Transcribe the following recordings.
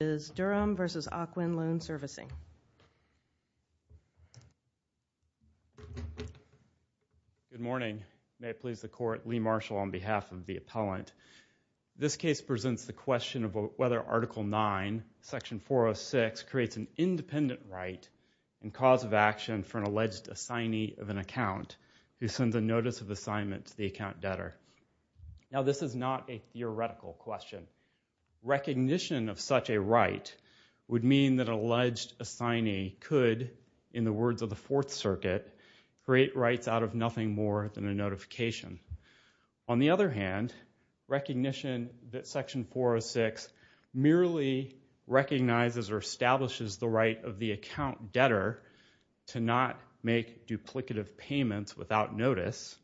is Durham v. Ocwen Loan Servicing. Good morning. May it please the court, Lee Marshall on behalf of the appellant. This case presents the question of whether Article 9, Section 406 creates an independent right and cause of action for an alleged assignee of an account who sends a notice of assignment to the account debtor. Now this is not a theoretical question. Recognition of such a right would mean that an alleged assignee could, in the words of the Fourth Circuit, create rights out of nothing more than a notification. On the other hand, recognition that Section 406 merely recognizes or establishes the right of the account debtor to not make duplicative payments without notice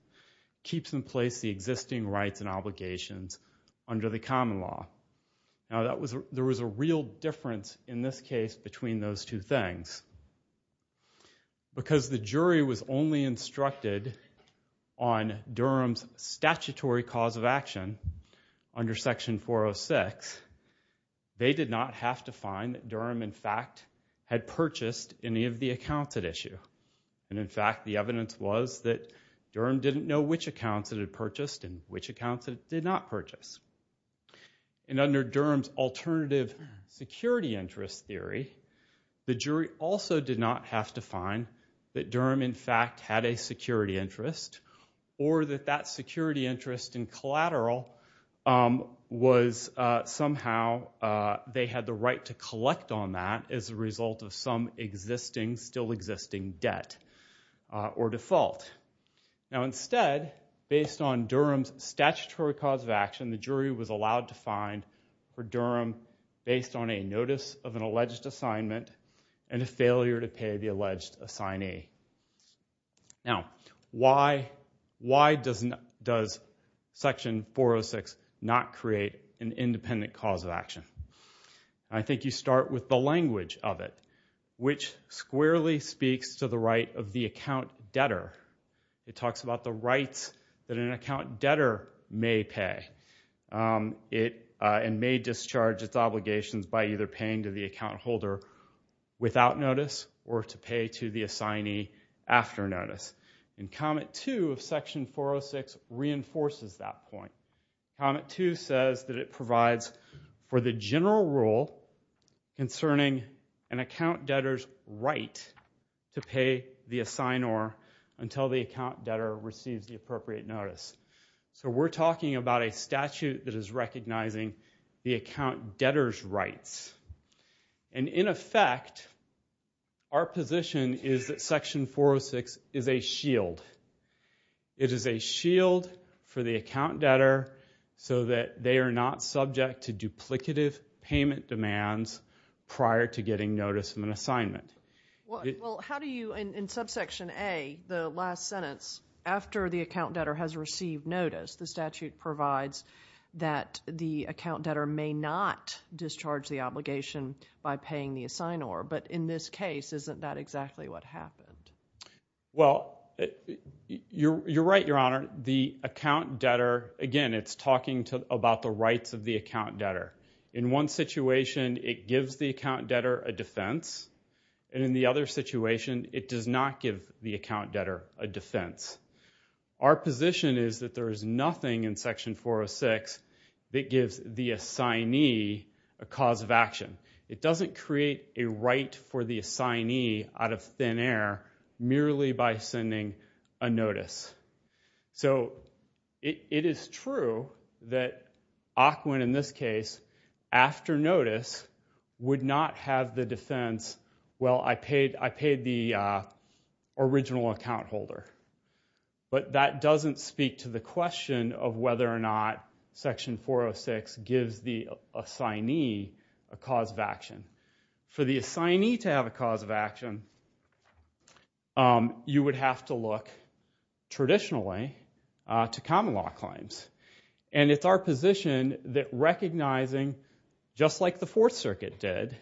keeps in place the existing rights and obligations under the common law. Now there was a real difference in this case between those two things. Because the jury was only instructed on Durham's statutory cause of action under Section 406, they did not have to find that Durham, in fact, had purchased any of the accounts at issue. And in fact, the evidence was that Durham didn't know which accounts it had purchased and which accounts it did not purchase. And under Durham's alternative security interest theory, the jury also did not have to find that Durham, in fact, had a security interest or that that security interest in collateral was somehow, they had the right to collect on that as a result of some existing, still existing debt or default. Now instead, based on Durham's statutory cause of action, the jury was allowed to find for Durham based on a notice of an alleged assignment and a failure to pay the alleged assignee. Now, why does Section 406 not create an independent cause of action? I think you start with the language of it, which squarely speaks to the right of the account debtor. It talks about the rights that an account debtor may pay and may discharge its obligations by either paying to the account holder without notice or to pay to the assignee after notice. And comment two of Section 406 reinforces that point. Comment two says that it provides for the general rule concerning an account debtor's right to pay the assignor until the account debtor receives the appropriate notice. So we're talking about a statute that is recognizing the account debtor's rights. And in effect, our position is that Section 406 is a shield. It is a shield for the account debtor so that they are not subject to duplicative payment demands prior to getting notice of an assignment. Well, how do you, in subsection A, the last sentence, after the account debtor has received notice, the statute provides that the account debtor may not discharge the obligation by paying the assignor. But in this case, isn't that exactly what happened? Well, you're right, Your Honor. The account debtor, again, it's talking about the rights of the account debtor. In one situation, it gives the account debtor a defense. And in the other situation, it does not give the account debtor a defense. Our position is that there is nothing in Section 406 that gives the assignee a cause of action. It doesn't create a right for the assignee out of thin air merely by sending a notice. So it is true that Ocwen, in this case, after notice, would not have the defense, well, I paid the original account holder. But that doesn't speak to the question of whether or not Section 406 gives the assignee a cause of action. For the assignee to have a cause of action, you would have to look traditionally to common law claims. And it's our position that recognizing, just like the Fourth Circuit did,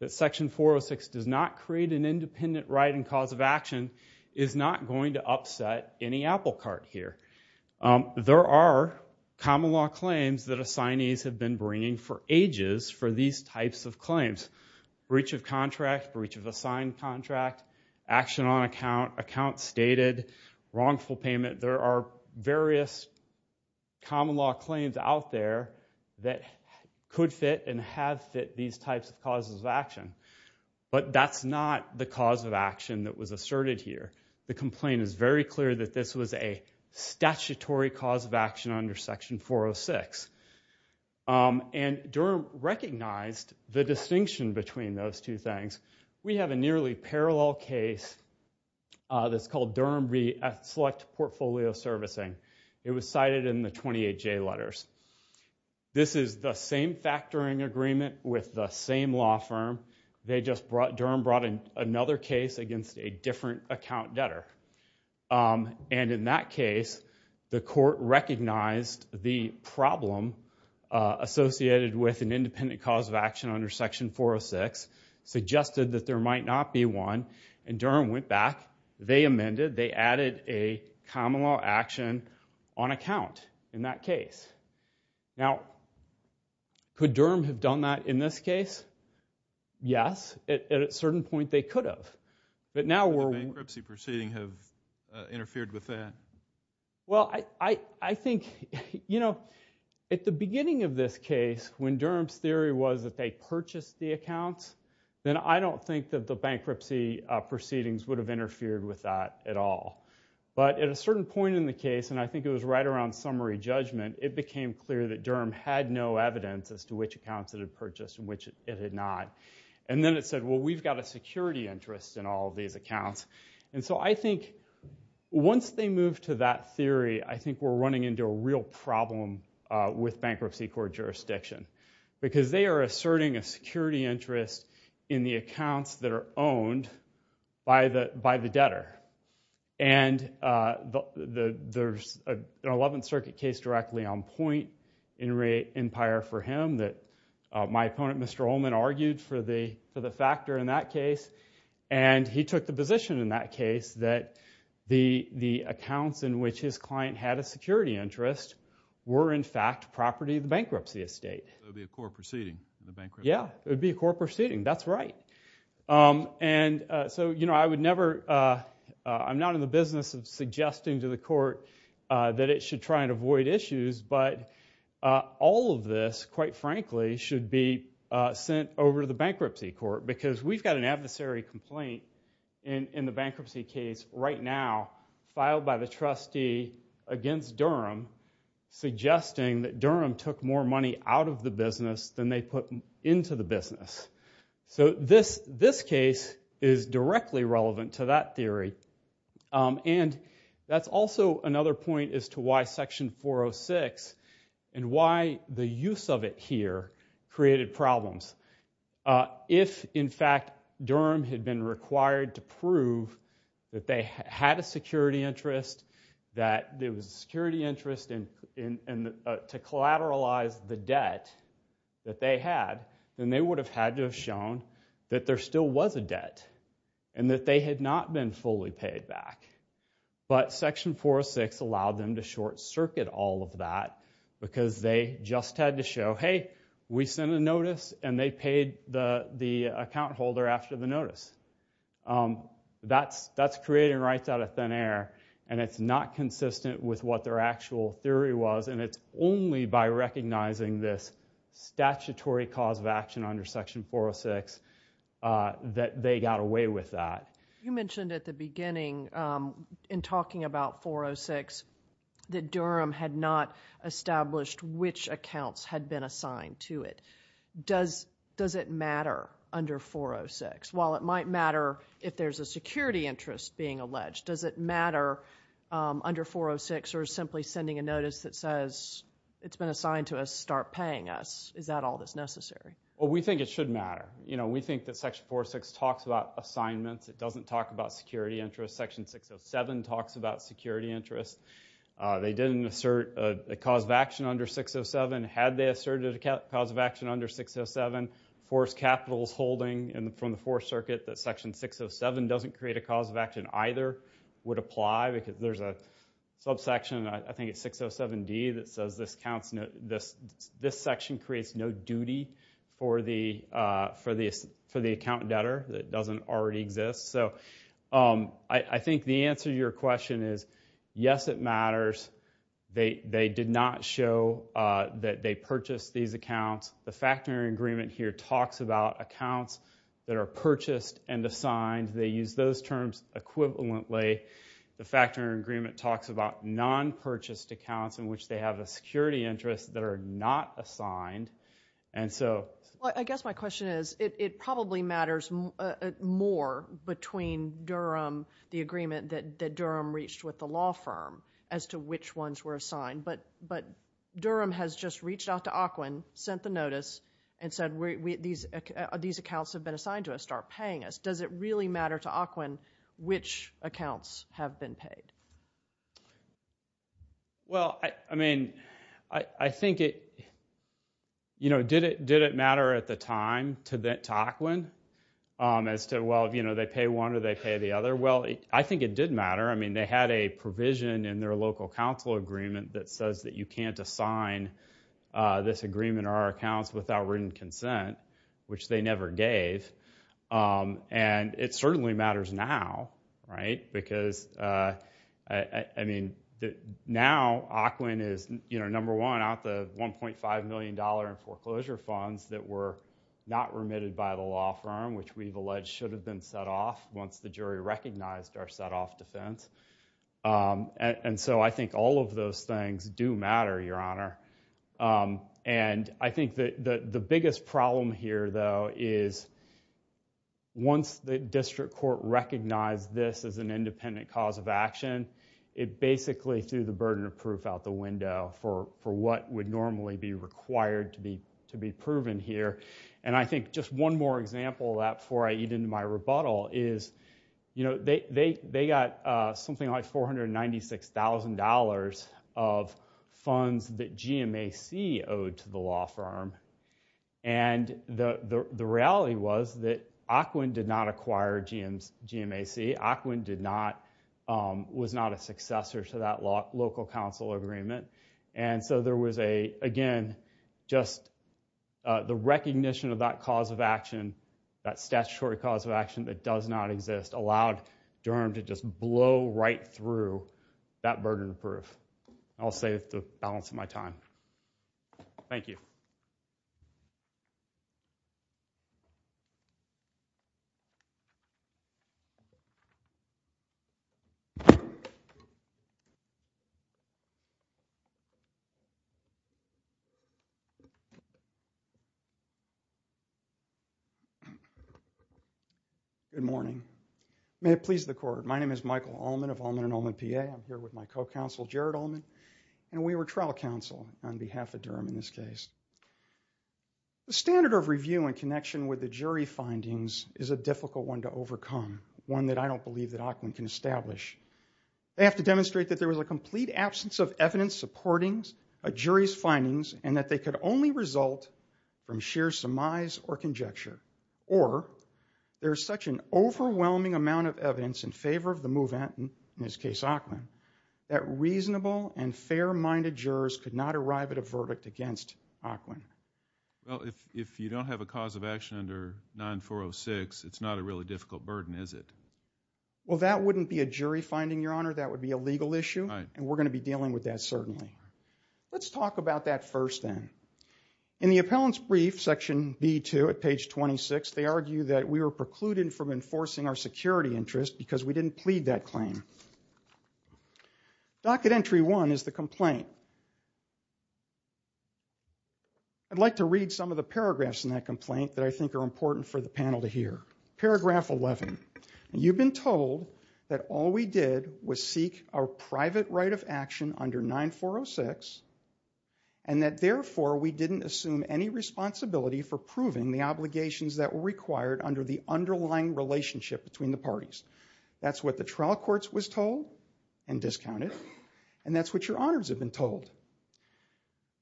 that Section 406 does not create an independent right and cause of action is not going to upset any apple cart here. There are common law claims that assignees have been bringing for ages for these types of claims. Breach of contract, breach of assigned contract, action on account, account stated, wrongful payment. There are various common law claims out there that could fit and have fit these types of causes of action. But that's not the cause of action that was asserted here. The complaint is very clear that this was a statutory cause of action under Section 406. And Durham recognized the distinction between those two things. We have a nearly parallel case that's called Durham v. Select Portfolio Servicing. It was cited in the 28J letters. This is the same factoring agreement with the same law firm. They just brought, Durham brought in another case against a different account debtor. And in that case, the court recognized the problem associated with an independent cause of action under Section 406, suggested that there might not be one, and Durham went back, they amended, they added a common law action on account in that case. Now, could Durham have done that in this case? Yes, at a certain point they could have. But now we're. Would a bankruptcy proceeding have interfered with that? Well, I think, you know, at the beginning of this case, when Durham's theory was that they purchased the accounts, then I don't think that the bankruptcy proceedings would have interfered with that at all. But at a certain point in the case, and I think it was right around summary judgment, it became clear that Durham had no evidence as to which accounts it had purchased and which it had not. And then it said, well, we've got a security interest in all of these accounts. And so I think once they move to that theory, I think we're running into a real problem with bankruptcy court jurisdiction. Because they are asserting a security interest in the accounts that are owned by the debtor. And there's an 11th Circuit case directly on point in Empire for him that my opponent, Mr. Ullman, argued for the factor in that case. And he took the position in that case that the accounts in which his client had a security interest were, in fact, property of the bankruptcy estate. It would be a core proceeding, the bankruptcy. Yeah, it would be a core proceeding, that's right. And so, you know, I would never, I'm not in the business of suggesting to the court that it should try and avoid issues, but all of this, quite frankly, should be sent over to the bankruptcy court. Because we've got an adversary complaint in the bankruptcy case right now, filed by the trustee against Durham, suggesting that Durham took more money out of the business than they put into the business. So this case is directly relevant to that theory. And that's also another point as to why section 406, and why the use of it here created problems. If, in fact, Durham had been required to prove that they had a security interest, that there was a security interest and to collateralize the debt that they had, then they would have had to have shown that there still was a debt, and that they had not been fully paid back. But section 406 allowed them to short circuit all of that, because they just had to show, hey, we sent a notice, and they paid the account holder after the notice. That's creating rights out of thin air, and it's not consistent with what their actual theory was, and it's only by recognizing this statutory cause of action under section 406 that they got away with that. You mentioned at the beginning, in talking about 406, that Durham had not established which accounts had been assigned to it. Does it matter under 406? While it might matter if there's a security interest being alleged, does it matter under 406, or simply sending a notice that says, it's been assigned to us, start paying us? Is that all that's necessary? Well, we think it should matter. We think that section 406 talks about assignments. It doesn't talk about security interests. Section 607 talks about security interests. They didn't assert a cause of action under 607. Had they asserted a cause of action under 607, Forrest Capital's holding, and from the Forrest Circuit, that section 607 doesn't create a cause of action either, would apply, because there's a subsection, I think it's 607D, that says this section creates no duty for the account debtor that doesn't already exist. So I think the answer to your question is, yes, it matters. They did not show that they purchased these accounts. The factoring agreement here talks about accounts that are purchased and assigned. They use those terms equivalently. The factoring agreement talks about non-purchased accounts in which they have a security interest that are not assigned, and so. Well, I guess my question is, it probably matters more between Durham, the agreement that Durham reached with the law firm as to which ones were assigned, but Durham has just reached out to Occoquan, sent the notice, and said these accounts have been assigned to us, start paying us. Does it really matter to Occoquan which accounts have been paid? Well, I mean, I think it, you know, did it matter at the time to Occoquan as to, well, you know, they pay one or they pay the other? I think it did matter. I mean, they had a provision in their local council agreement that says that you can't assign this agreement or our accounts without written consent, which they never gave. And it certainly matters now, right? Because, I mean, now Occoquan is, you know, number one out the $1.5 million in foreclosure funds that were not remitted by the law firm, which we've alleged should have been set off once the jury recognized our set-off defense. And so I think all of those things do matter, Your Honor. And I think that the biggest problem here, though, is once the district court recognized this as an independent cause of action, it basically threw the burden of proof out the window for what would normally be required to be proven here. And I think just one more example of that before I eat into my rebuttal is, you know, they got something like $496,000 of funds that GMAC owed to the law firm. And the reality was that Occoquan did not acquire GMAC. Occoquan was not a successor to that local council agreement. And so there was a, again, just the recognition of that cause of action, that statutory cause of action that does not exist, allowed Durham to just blow right through that burden of proof. I'll save the balance of my time. Thank you. Good morning. May it please the court. My name is Michael Ullman of Ullman and Ullman PA. I'm here with my co-counsel, Jared Ullman. And we were trial counsel on behalf of Durham in this case. The standard of review in connection with the jury findings is a difficult one to overcome, one that I don't believe that Occoquan can establish. They have to demonstrate that there was a complete absence of evidence supporting a jury's findings and that they could only result from sheer surmise or conjecture. Or there's such an overwhelming amount of evidence in favor of the movement, in this case, Occoquan, that reasonable and fair-minded jurors could not arrive at a verdict against Occoquan. Well, if you don't have a cause of action under 9406, it's not a really difficult burden, is it? Well, that wouldn't be a jury finding, Your Honor. That would be a legal issue. And we're gonna be dealing with that, certainly. Let's talk about that first then. In the appellant's brief, section B2, at page 26, they argue that we were precluded from enforcing our security interest because we didn't plead that claim. Docket entry one is the complaint. I'd like to read some of the paragraphs in that complaint that I think are important for the panel to hear. Paragraph 11. You've been told that all we did was seek our private right of action under 9406 and that, therefore, we didn't assume any responsibility for proving the obligations that were required under the underlying relationship between the parties. That's what the trial courts was told and discounted, and that's what your honors have been told.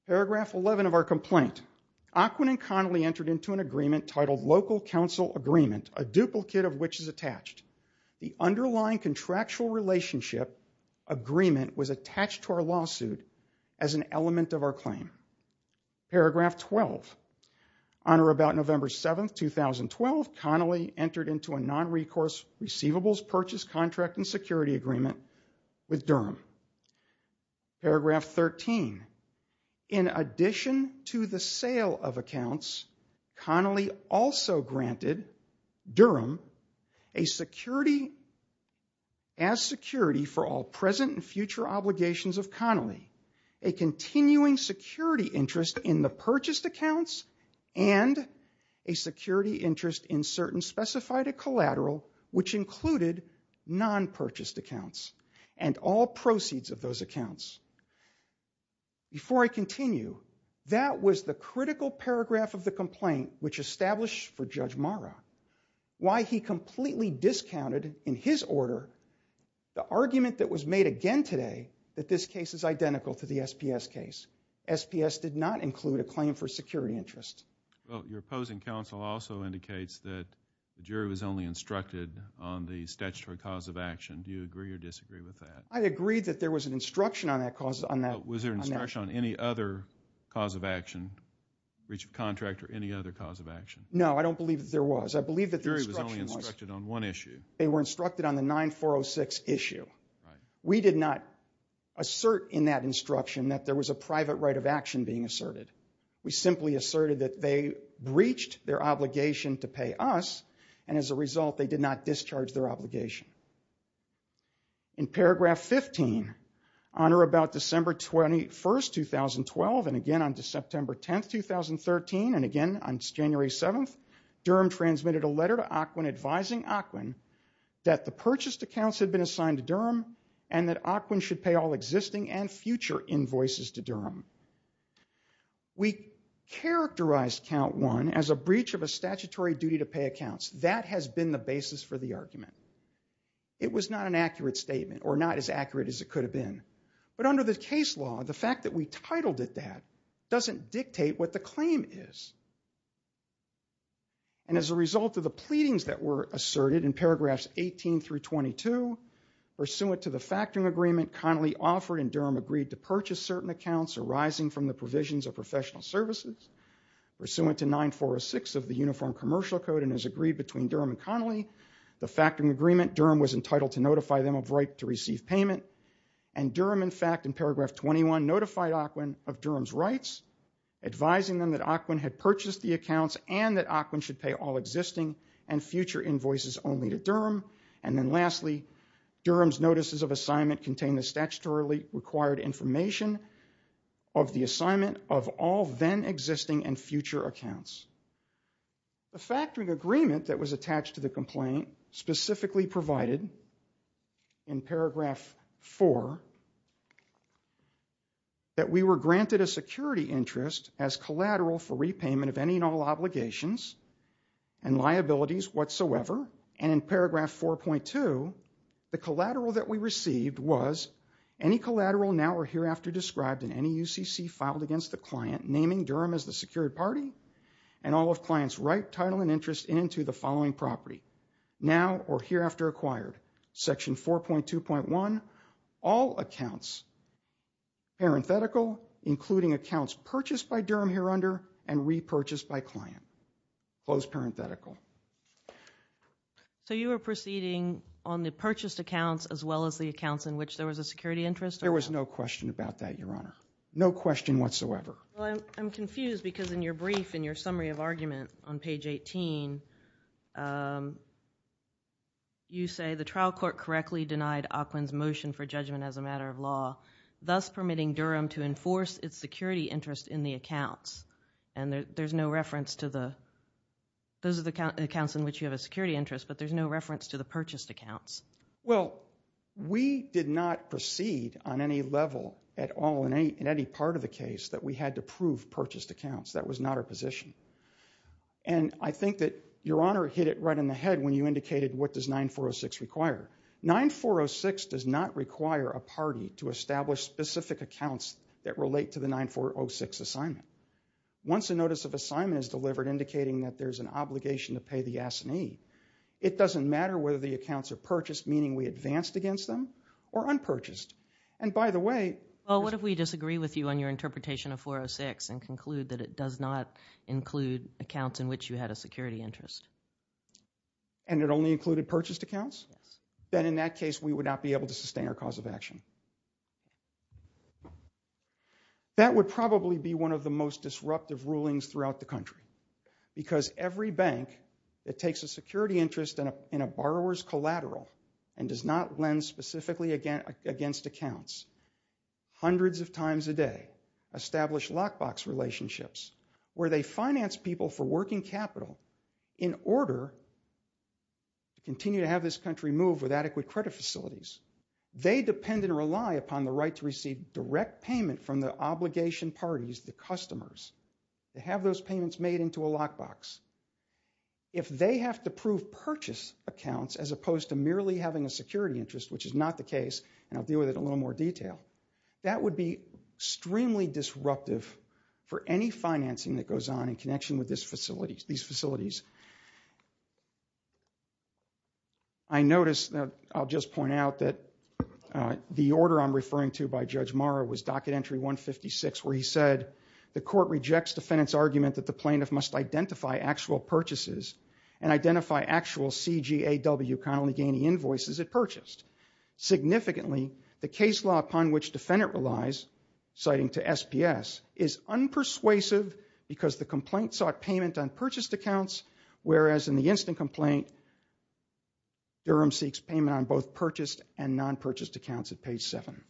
Paragraph 11 of our complaint. Occoquan and Connolly entered into an agreement titled Local Counsel Agreement, a duplicate of which is attached. The underlying contractual relationship agreement was attached to our lawsuit as an element of our claim. Paragraph 12. On or about November 7th, 2012, Connolly entered into a non-recourse receivables purchase contract and security agreement with Durham. Paragraph 13. In addition to the sale of accounts, Connolly also granted Durham a security, as security for all present and future obligations of Connolly, a continuing security interest in the purchased accounts and a security interest in certain specified collateral, which included non-purchased accounts and all proceeds of those accounts. Before I continue, that was the critical paragraph of the complaint which established for Judge Marra why he completely discounted in his order the argument that was made again today that this case is identical to the SPS case. SPS did not include a claim for security interest. Well, your opposing counsel also indicates that the jury was only instructed on the statutory cause of action. Do you agree or disagree with that? I agree that there was an instruction on that cause. Was there an instruction on any other cause of action, breach of contract or any other cause of action? No, I don't believe that there was. I believe that the instruction was. The jury was only instructed on one issue. They were instructed on the 9406 issue. We did not assert in that instruction that there was a private right of action being asserted. We simply asserted that they breached their obligation to pay us, and as a result, they did not discharge their obligation. In paragraph 15, on or about December 21st, 2012, and again on to September 10th, 2013, and again on January 7th, Durham transmitted a letter to Ocwen advising Ocwen that the purchased accounts had been assigned to Durham and that Ocwen should pay all existing and future invoices to Durham. We characterized count one as a breach of a statutory duty to pay accounts. That has been the basis for the argument. It was not an accurate statement or not as accurate as it could have been, but under the case law, the fact that we titled it that doesn't dictate what the claim is. And as a result of the pleadings that were asserted in paragraphs 18 through 22, pursuant to the factoring agreement Connolly offered and Durham agreed to purchase certain accounts arising from the provisions of professional services, pursuant to 9406 of the Uniform Commercial Code and as agreed between Durham and Connolly, the factoring agreement, Durham was entitled to notify them of right to receive payment, and Durham, in fact, in paragraph 21, notified Ocwen of Durham's rights, advising them that Ocwen had purchased the accounts and that Ocwen should pay all existing and future invoices only to Durham. And then lastly, Durham's notices of assignment contained the statutorily required information of the assignment of all then existing and future accounts. The factoring agreement that was attached to the complaint specifically provided in paragraph four that we were granted a security interest as collateral for repayment of any and all obligations and liabilities whatsoever. And in paragraph 4.2, the collateral that we received was any collateral now or hereafter described in any UCC filed against the client, naming Durham as the secured party and all of clients' right, title and interest into the following property, now or hereafter acquired, section 4.2.1, all accounts, parenthetical, including accounts purchased by Durham here under and repurchased by client. Close parenthetical. So you were proceeding on the purchased accounts as well as the accounts in which there was a security interest? There was no question about that, Your Honor. No question whatsoever. I'm confused because in your brief, in your summary of argument on page 18, you say the trial court correctly denied Ocwen's motion for judgment as a matter of law, thus permitting Durham to enforce its security interest in the accounts. And there's no reference to the, those are the accounts in which you have a security interest but there's no reference to the purchased accounts. Well, we did not proceed on any level at all in any part of the case that we had to prove purchased accounts. That was not our position. And I think that Your Honor hit it right in the head when you indicated what does 9406 require. 9406 does not require a party to establish specific accounts that relate to the 9406 assignment. Once a notice of assignment is delivered indicating that there's an obligation to pay the assignee, it doesn't matter whether the accounts are purchased, meaning we advanced against them, or unpurchased. And by the way- Well, what if we disagree with you on your interpretation of 406 and conclude that it does not include accounts in which you had a security interest? And it only included purchased accounts? Then in that case, we would not be able to sustain our cause of action. That would probably be one of the most disruptive rulings throughout the country because every bank that takes a security interest in a borrower's collateral and does not lend specifically against accounts hundreds of times a day, establish lockbox relationships where they finance people for working capital in order to continue to have this country move with adequate credit facilities. They depend and rely upon the right to receive direct payment from the obligation parties, the customers, to have those payments made into a lockbox. If they have to prove purchase accounts as opposed to merely having a security interest, which is not the case, and I'll deal with it in a little more detail, that would be extremely disruptive for any financing that goes on in connection with these facilities. I notice, I'll just point out that the order I'm referring to by Judge Morrow was Docket Entry 156, where he said, the court rejects defendant's argument that the plaintiff must identify actual purchases and identify actual CGAW Connelly-Ganey invoices it purchased. Significantly, the case law upon which defendant relies, citing to SPS, is unpersuasive because the complaint sought payment on purchased accounts, whereas in the instant complaint, Durham seeks payment on both purchased and non-purchased accounts at page seven.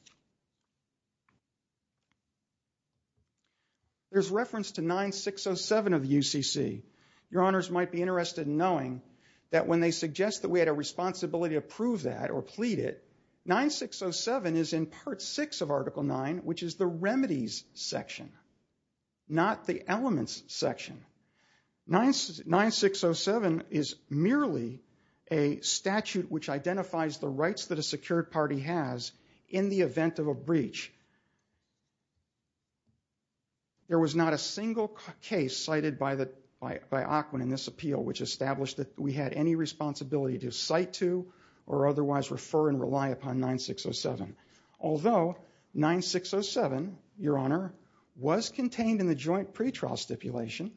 There's reference to 9607 of the UCC. Your honors might be interested in knowing that when they suggest that we had a responsibility to prove that or plead it, 9607 is in part six of article nine, which is the remedies section, not the elements section. 9607 is merely a statute which identifies the rights that a secured party has in the event of a breach. There was not a single case cited by Aquin in this appeal which established that we had any responsibility to cite to or otherwise refer and rely upon 9607. Although 9607, your honor, was contained in the joint pretrial stipulation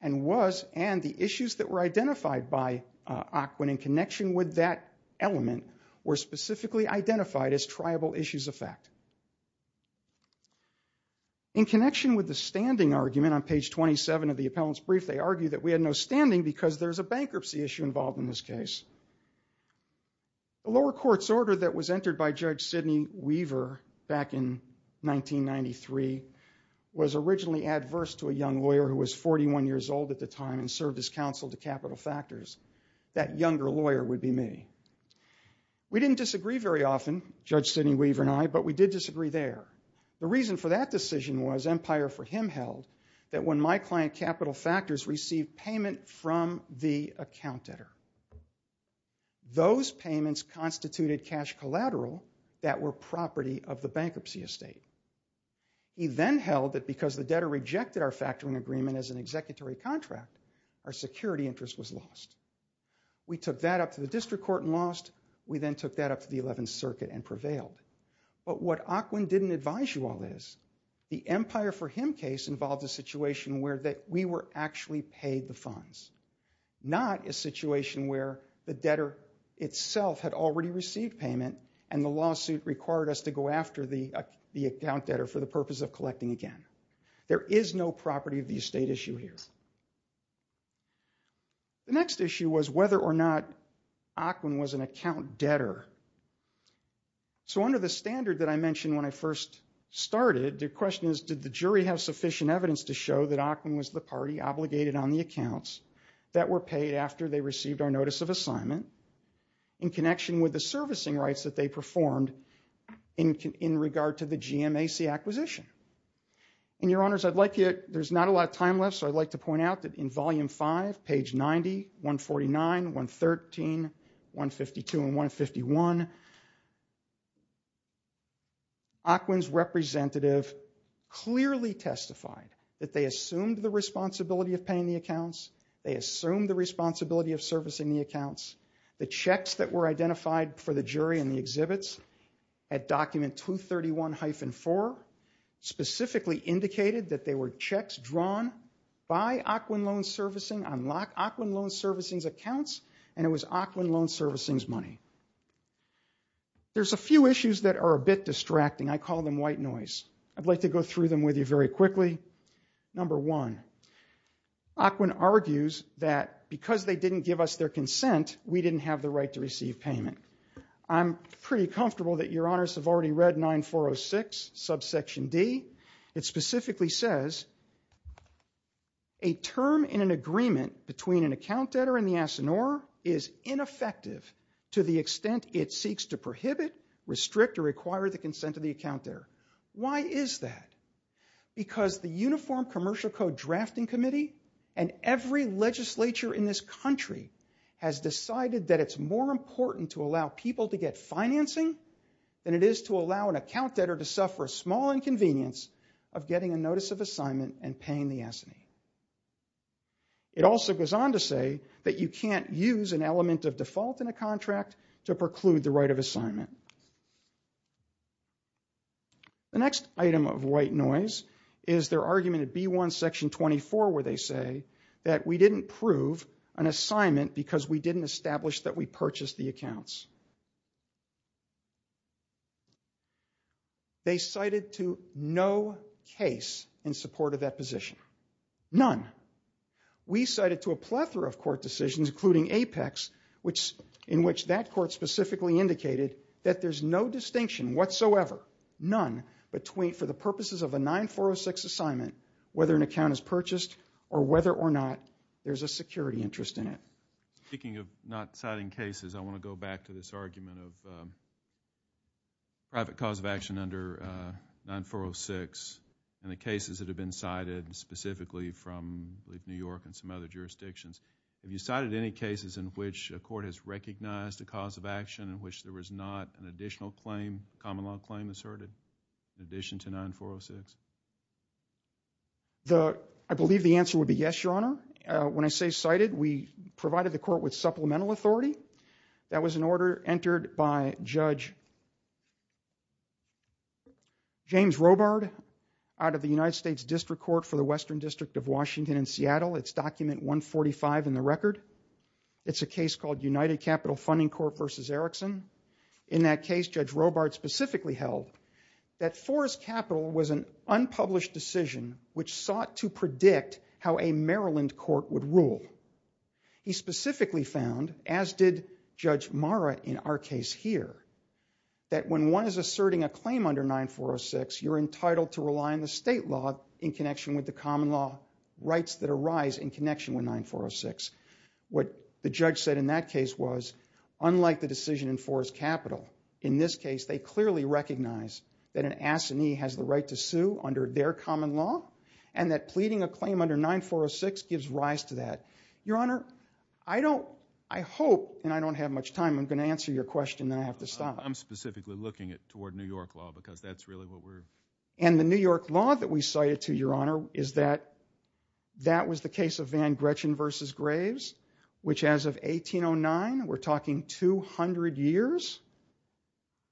and was and the issues that were identified by Aquin in connection with that element were specifically identified as tribal issues of fact. In connection with the standing argument on page 27 of the appellant's brief, they argue that we had no standing because there's a bankruptcy issue involved in this case. The lower court's order that was entered by Judge Sidney Weaver back in 1993 was originally adverse to a young lawyer who was 41 years old at the time and served as counsel to Capital Factors. That younger lawyer would be me. We didn't disagree very often, Judge Sidney Weaver and I, but we did disagree there. The reason for that decision was empire for him held that when my client, Capital Factors, received payment from the account debtor. Those payments constituted cash collateral that were property of the bankruptcy estate. He then held that because the debtor rejected our factoring agreement as an executory contract, our security interest was lost. We took that up to the district court and lost. We then took that up to the 11th Circuit and prevailed. But what Aquin didn't advise you all is the empire for him case involved a situation where we were actually paid the funds, not a situation where the debtor itself had already received payment and the lawsuit required us to go after the account debtor for the purpose of collecting again. There is no property of the estate issue here. The next issue was whether or not Aquin was an account debtor. So under the standard that I mentioned when I first started, the question is did the jury have sufficient evidence to show that Aquin was the party obligated on the accounts that were paid after they received our notice of assignment in connection with the servicing rights that they performed in regard to the GMAC acquisition? And your honors, I'd like you, there's not a lot of time left, so I'd like to point out that in volume five, page 90, 149, 113, 152, and 151, Aquin's representative clearly testified that they assumed the responsibility of paying the accounts, they assumed the responsibility of servicing the accounts, the checks that were identified for the jury in the exhibits at document 231-4 specifically indicated that they were checks drawn by Aquin Loan Servicing on Aquin Loan Servicing's accounts and it was Aquin Loan Servicing's money. There's a few issues that are a bit distracting, I call them white noise. I'd like to go through them with you very quickly. Number one, Aquin argues that because they didn't give us their consent, we didn't have the right to receive payment. I'm pretty comfortable that your honors have already read 9406, subsection D. It specifically says a term in an agreement between an account debtor and the assignor is ineffective to the extent it seeks to prohibit, restrict, or require the consent of the account debtor. Why is that? Because the Uniform Commercial Code Drafting Committee and every legislature in this country has decided that it's more important to allow people to get financing than it is to allow an account debtor to suffer a small inconvenience of getting a notice of assignment and paying the assignee. It also goes on to say that you can't use an element of default in a contract to preclude the right of assignment. The next item of white noise is their argument at B1, section 24, where they say that we didn't prove an assignment because we didn't establish that we purchased the accounts. They cited to no case in support of that position. None. We cited to a plethora of court decisions, including Apex, in which that court specifically indicated that there's no distinction whatsoever, none, for the purposes of a 9406 assignment, whether an account is purchased or whether or not there's a security interest in it. Speaking of not citing cases, I want to go back to this argument of private cause of action under 9406 and the cases that have been cited specifically from, I believe, New York and some other jurisdictions. Have you cited any cases in which a court has recognized a cause of action in which there was not an additional claim, common law claim asserted, in addition to 9406? I believe the answer would be yes, Your Honor. When I say cited, we provided the court with supplemental authority. That was an order entered by Judge James Robard out of the United States District Court for the Western District of Washington and Seattle. It's document 145 in the record. It's a case called United Capital Funding Court versus Erickson. In that case, Judge Robard specifically held that Forrest Capital was an unpublished decision which sought to predict how a Maryland court would rule. He specifically found, as did Judge Mara in our case here, that when one is asserting a claim under 9406, you're entitled to rely on the state law in connection with the common law rights that arise in connection with 9406. What the judge said in that case was, unlike the decision in Forrest Capital, in this case, they clearly recognize that an assignee has the right to sue under their common law and that pleading a claim under 9406 gives rise to that. Your Honor, I don't, I hope, and I don't have much time, I'm gonna answer your question, then I have to stop. I'm specifically looking at toward New York law because that's really what we're. And the New York law that we cited to, Your Honor, is that that was the case of Van Gretchen versus Graves, which as of 1809, we're talking 200 years,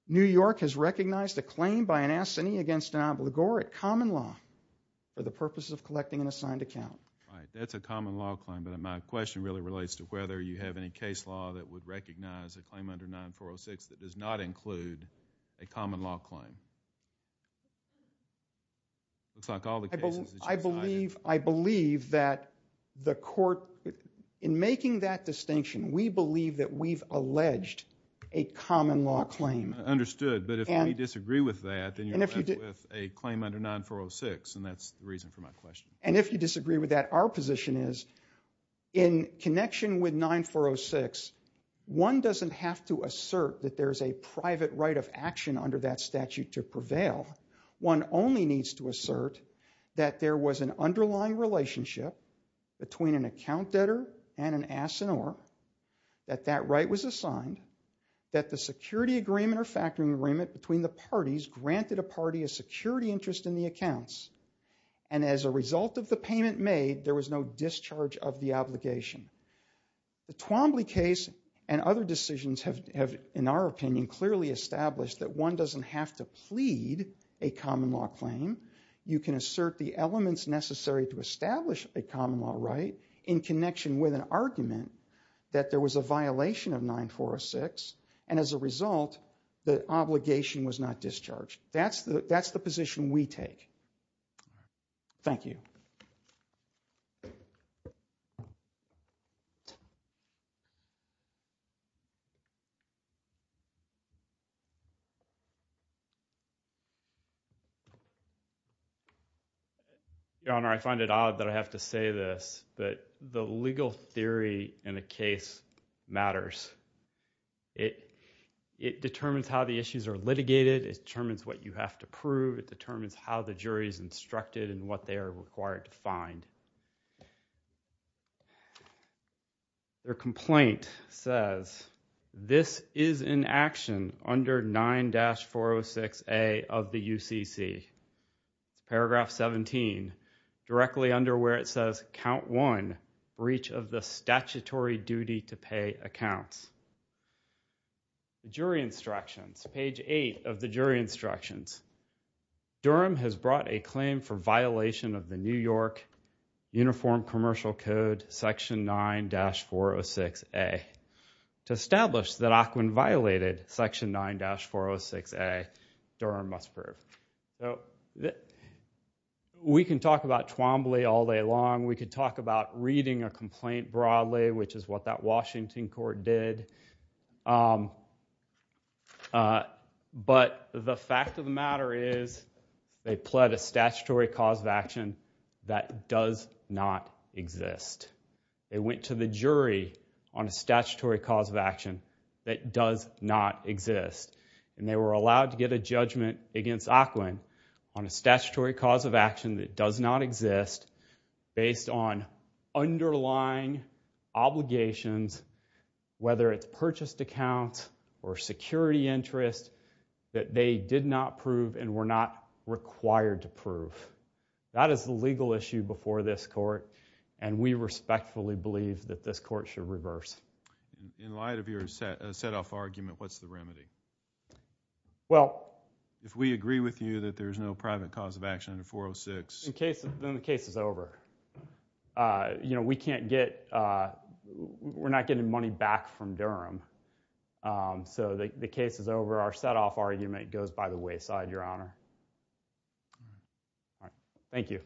New York has recognized a claim by an assignee against an obligor at common law for the purpose of collecting an assigned account. Right, that's a common law claim, but my question really relates to whether you have any case law that would recognize a claim under 9406 that does not include a common law claim. Looks like all the cases that you've cited. I believe that the court, in making that distinction, we believe that we've alleged a common law claim. Understood, but if we disagree with that, then you're alleged with a claim under 9406, and that's the reason for my question. And if you disagree with that, our position is in connection with 9406, one doesn't have to assert that there's a private right of action under that statute to prevail. One only needs to assert that there was an underlying relationship between an account debtor and an assineur, that that right was assigned, that the security agreement or factoring agreement between the parties granted a party a security interest in the accounts, and as a result of the payment made, there was no discharge of the obligation. The Twombly case and other decisions have, in our opinion, clearly established that one doesn't have to plead a common law claim. You can assert the elements necessary to establish a common law right in connection with an argument that there was a violation of 9406, and as a result, the obligation was not discharged. That's the position we take. Thank you. Your Honor, I find it odd that I have to say this, but the legal theory in a case matters. It determines how the issues are litigated, it determines what you have to prove, it determines how the jury's instructed and what they are required to find. Their complaint says, this is in action under 9406, 9-406A of the UCC, paragraph 17, directly under where it says, count one, breach of the statutory duty to pay accounts. The jury instructions, page eight of the jury instructions. Durham has brought a claim for violation of the New York Uniform Commercial Code, section 9-406A, to establish that Aquin violated section 9-406A, Durham must prove. We can talk about Twombly all day long, we could talk about reading a complaint broadly, which is what that Washington court did, but the fact of the matter is, they pled a statutory cause of action that does not exist. They went to the jury on a statutory cause of action that does not exist, and they were allowed to get a judgment against Aquin on a statutory cause of action that does not exist based on underlying obligations, whether it's purchased accounts or security interest, that they did not prove and were not required to prove. That is the legal issue before this court, and we respectfully believe that this court should reverse. In light of your set-off argument, what's the remedy? Well. If we agree with you that there's no private cause of action under 406. Then the case is over. We can't get, we're not getting money back from Durham, so the case is over, our set-off argument goes by the wayside, Your Honor. All right, thank you. Thank you.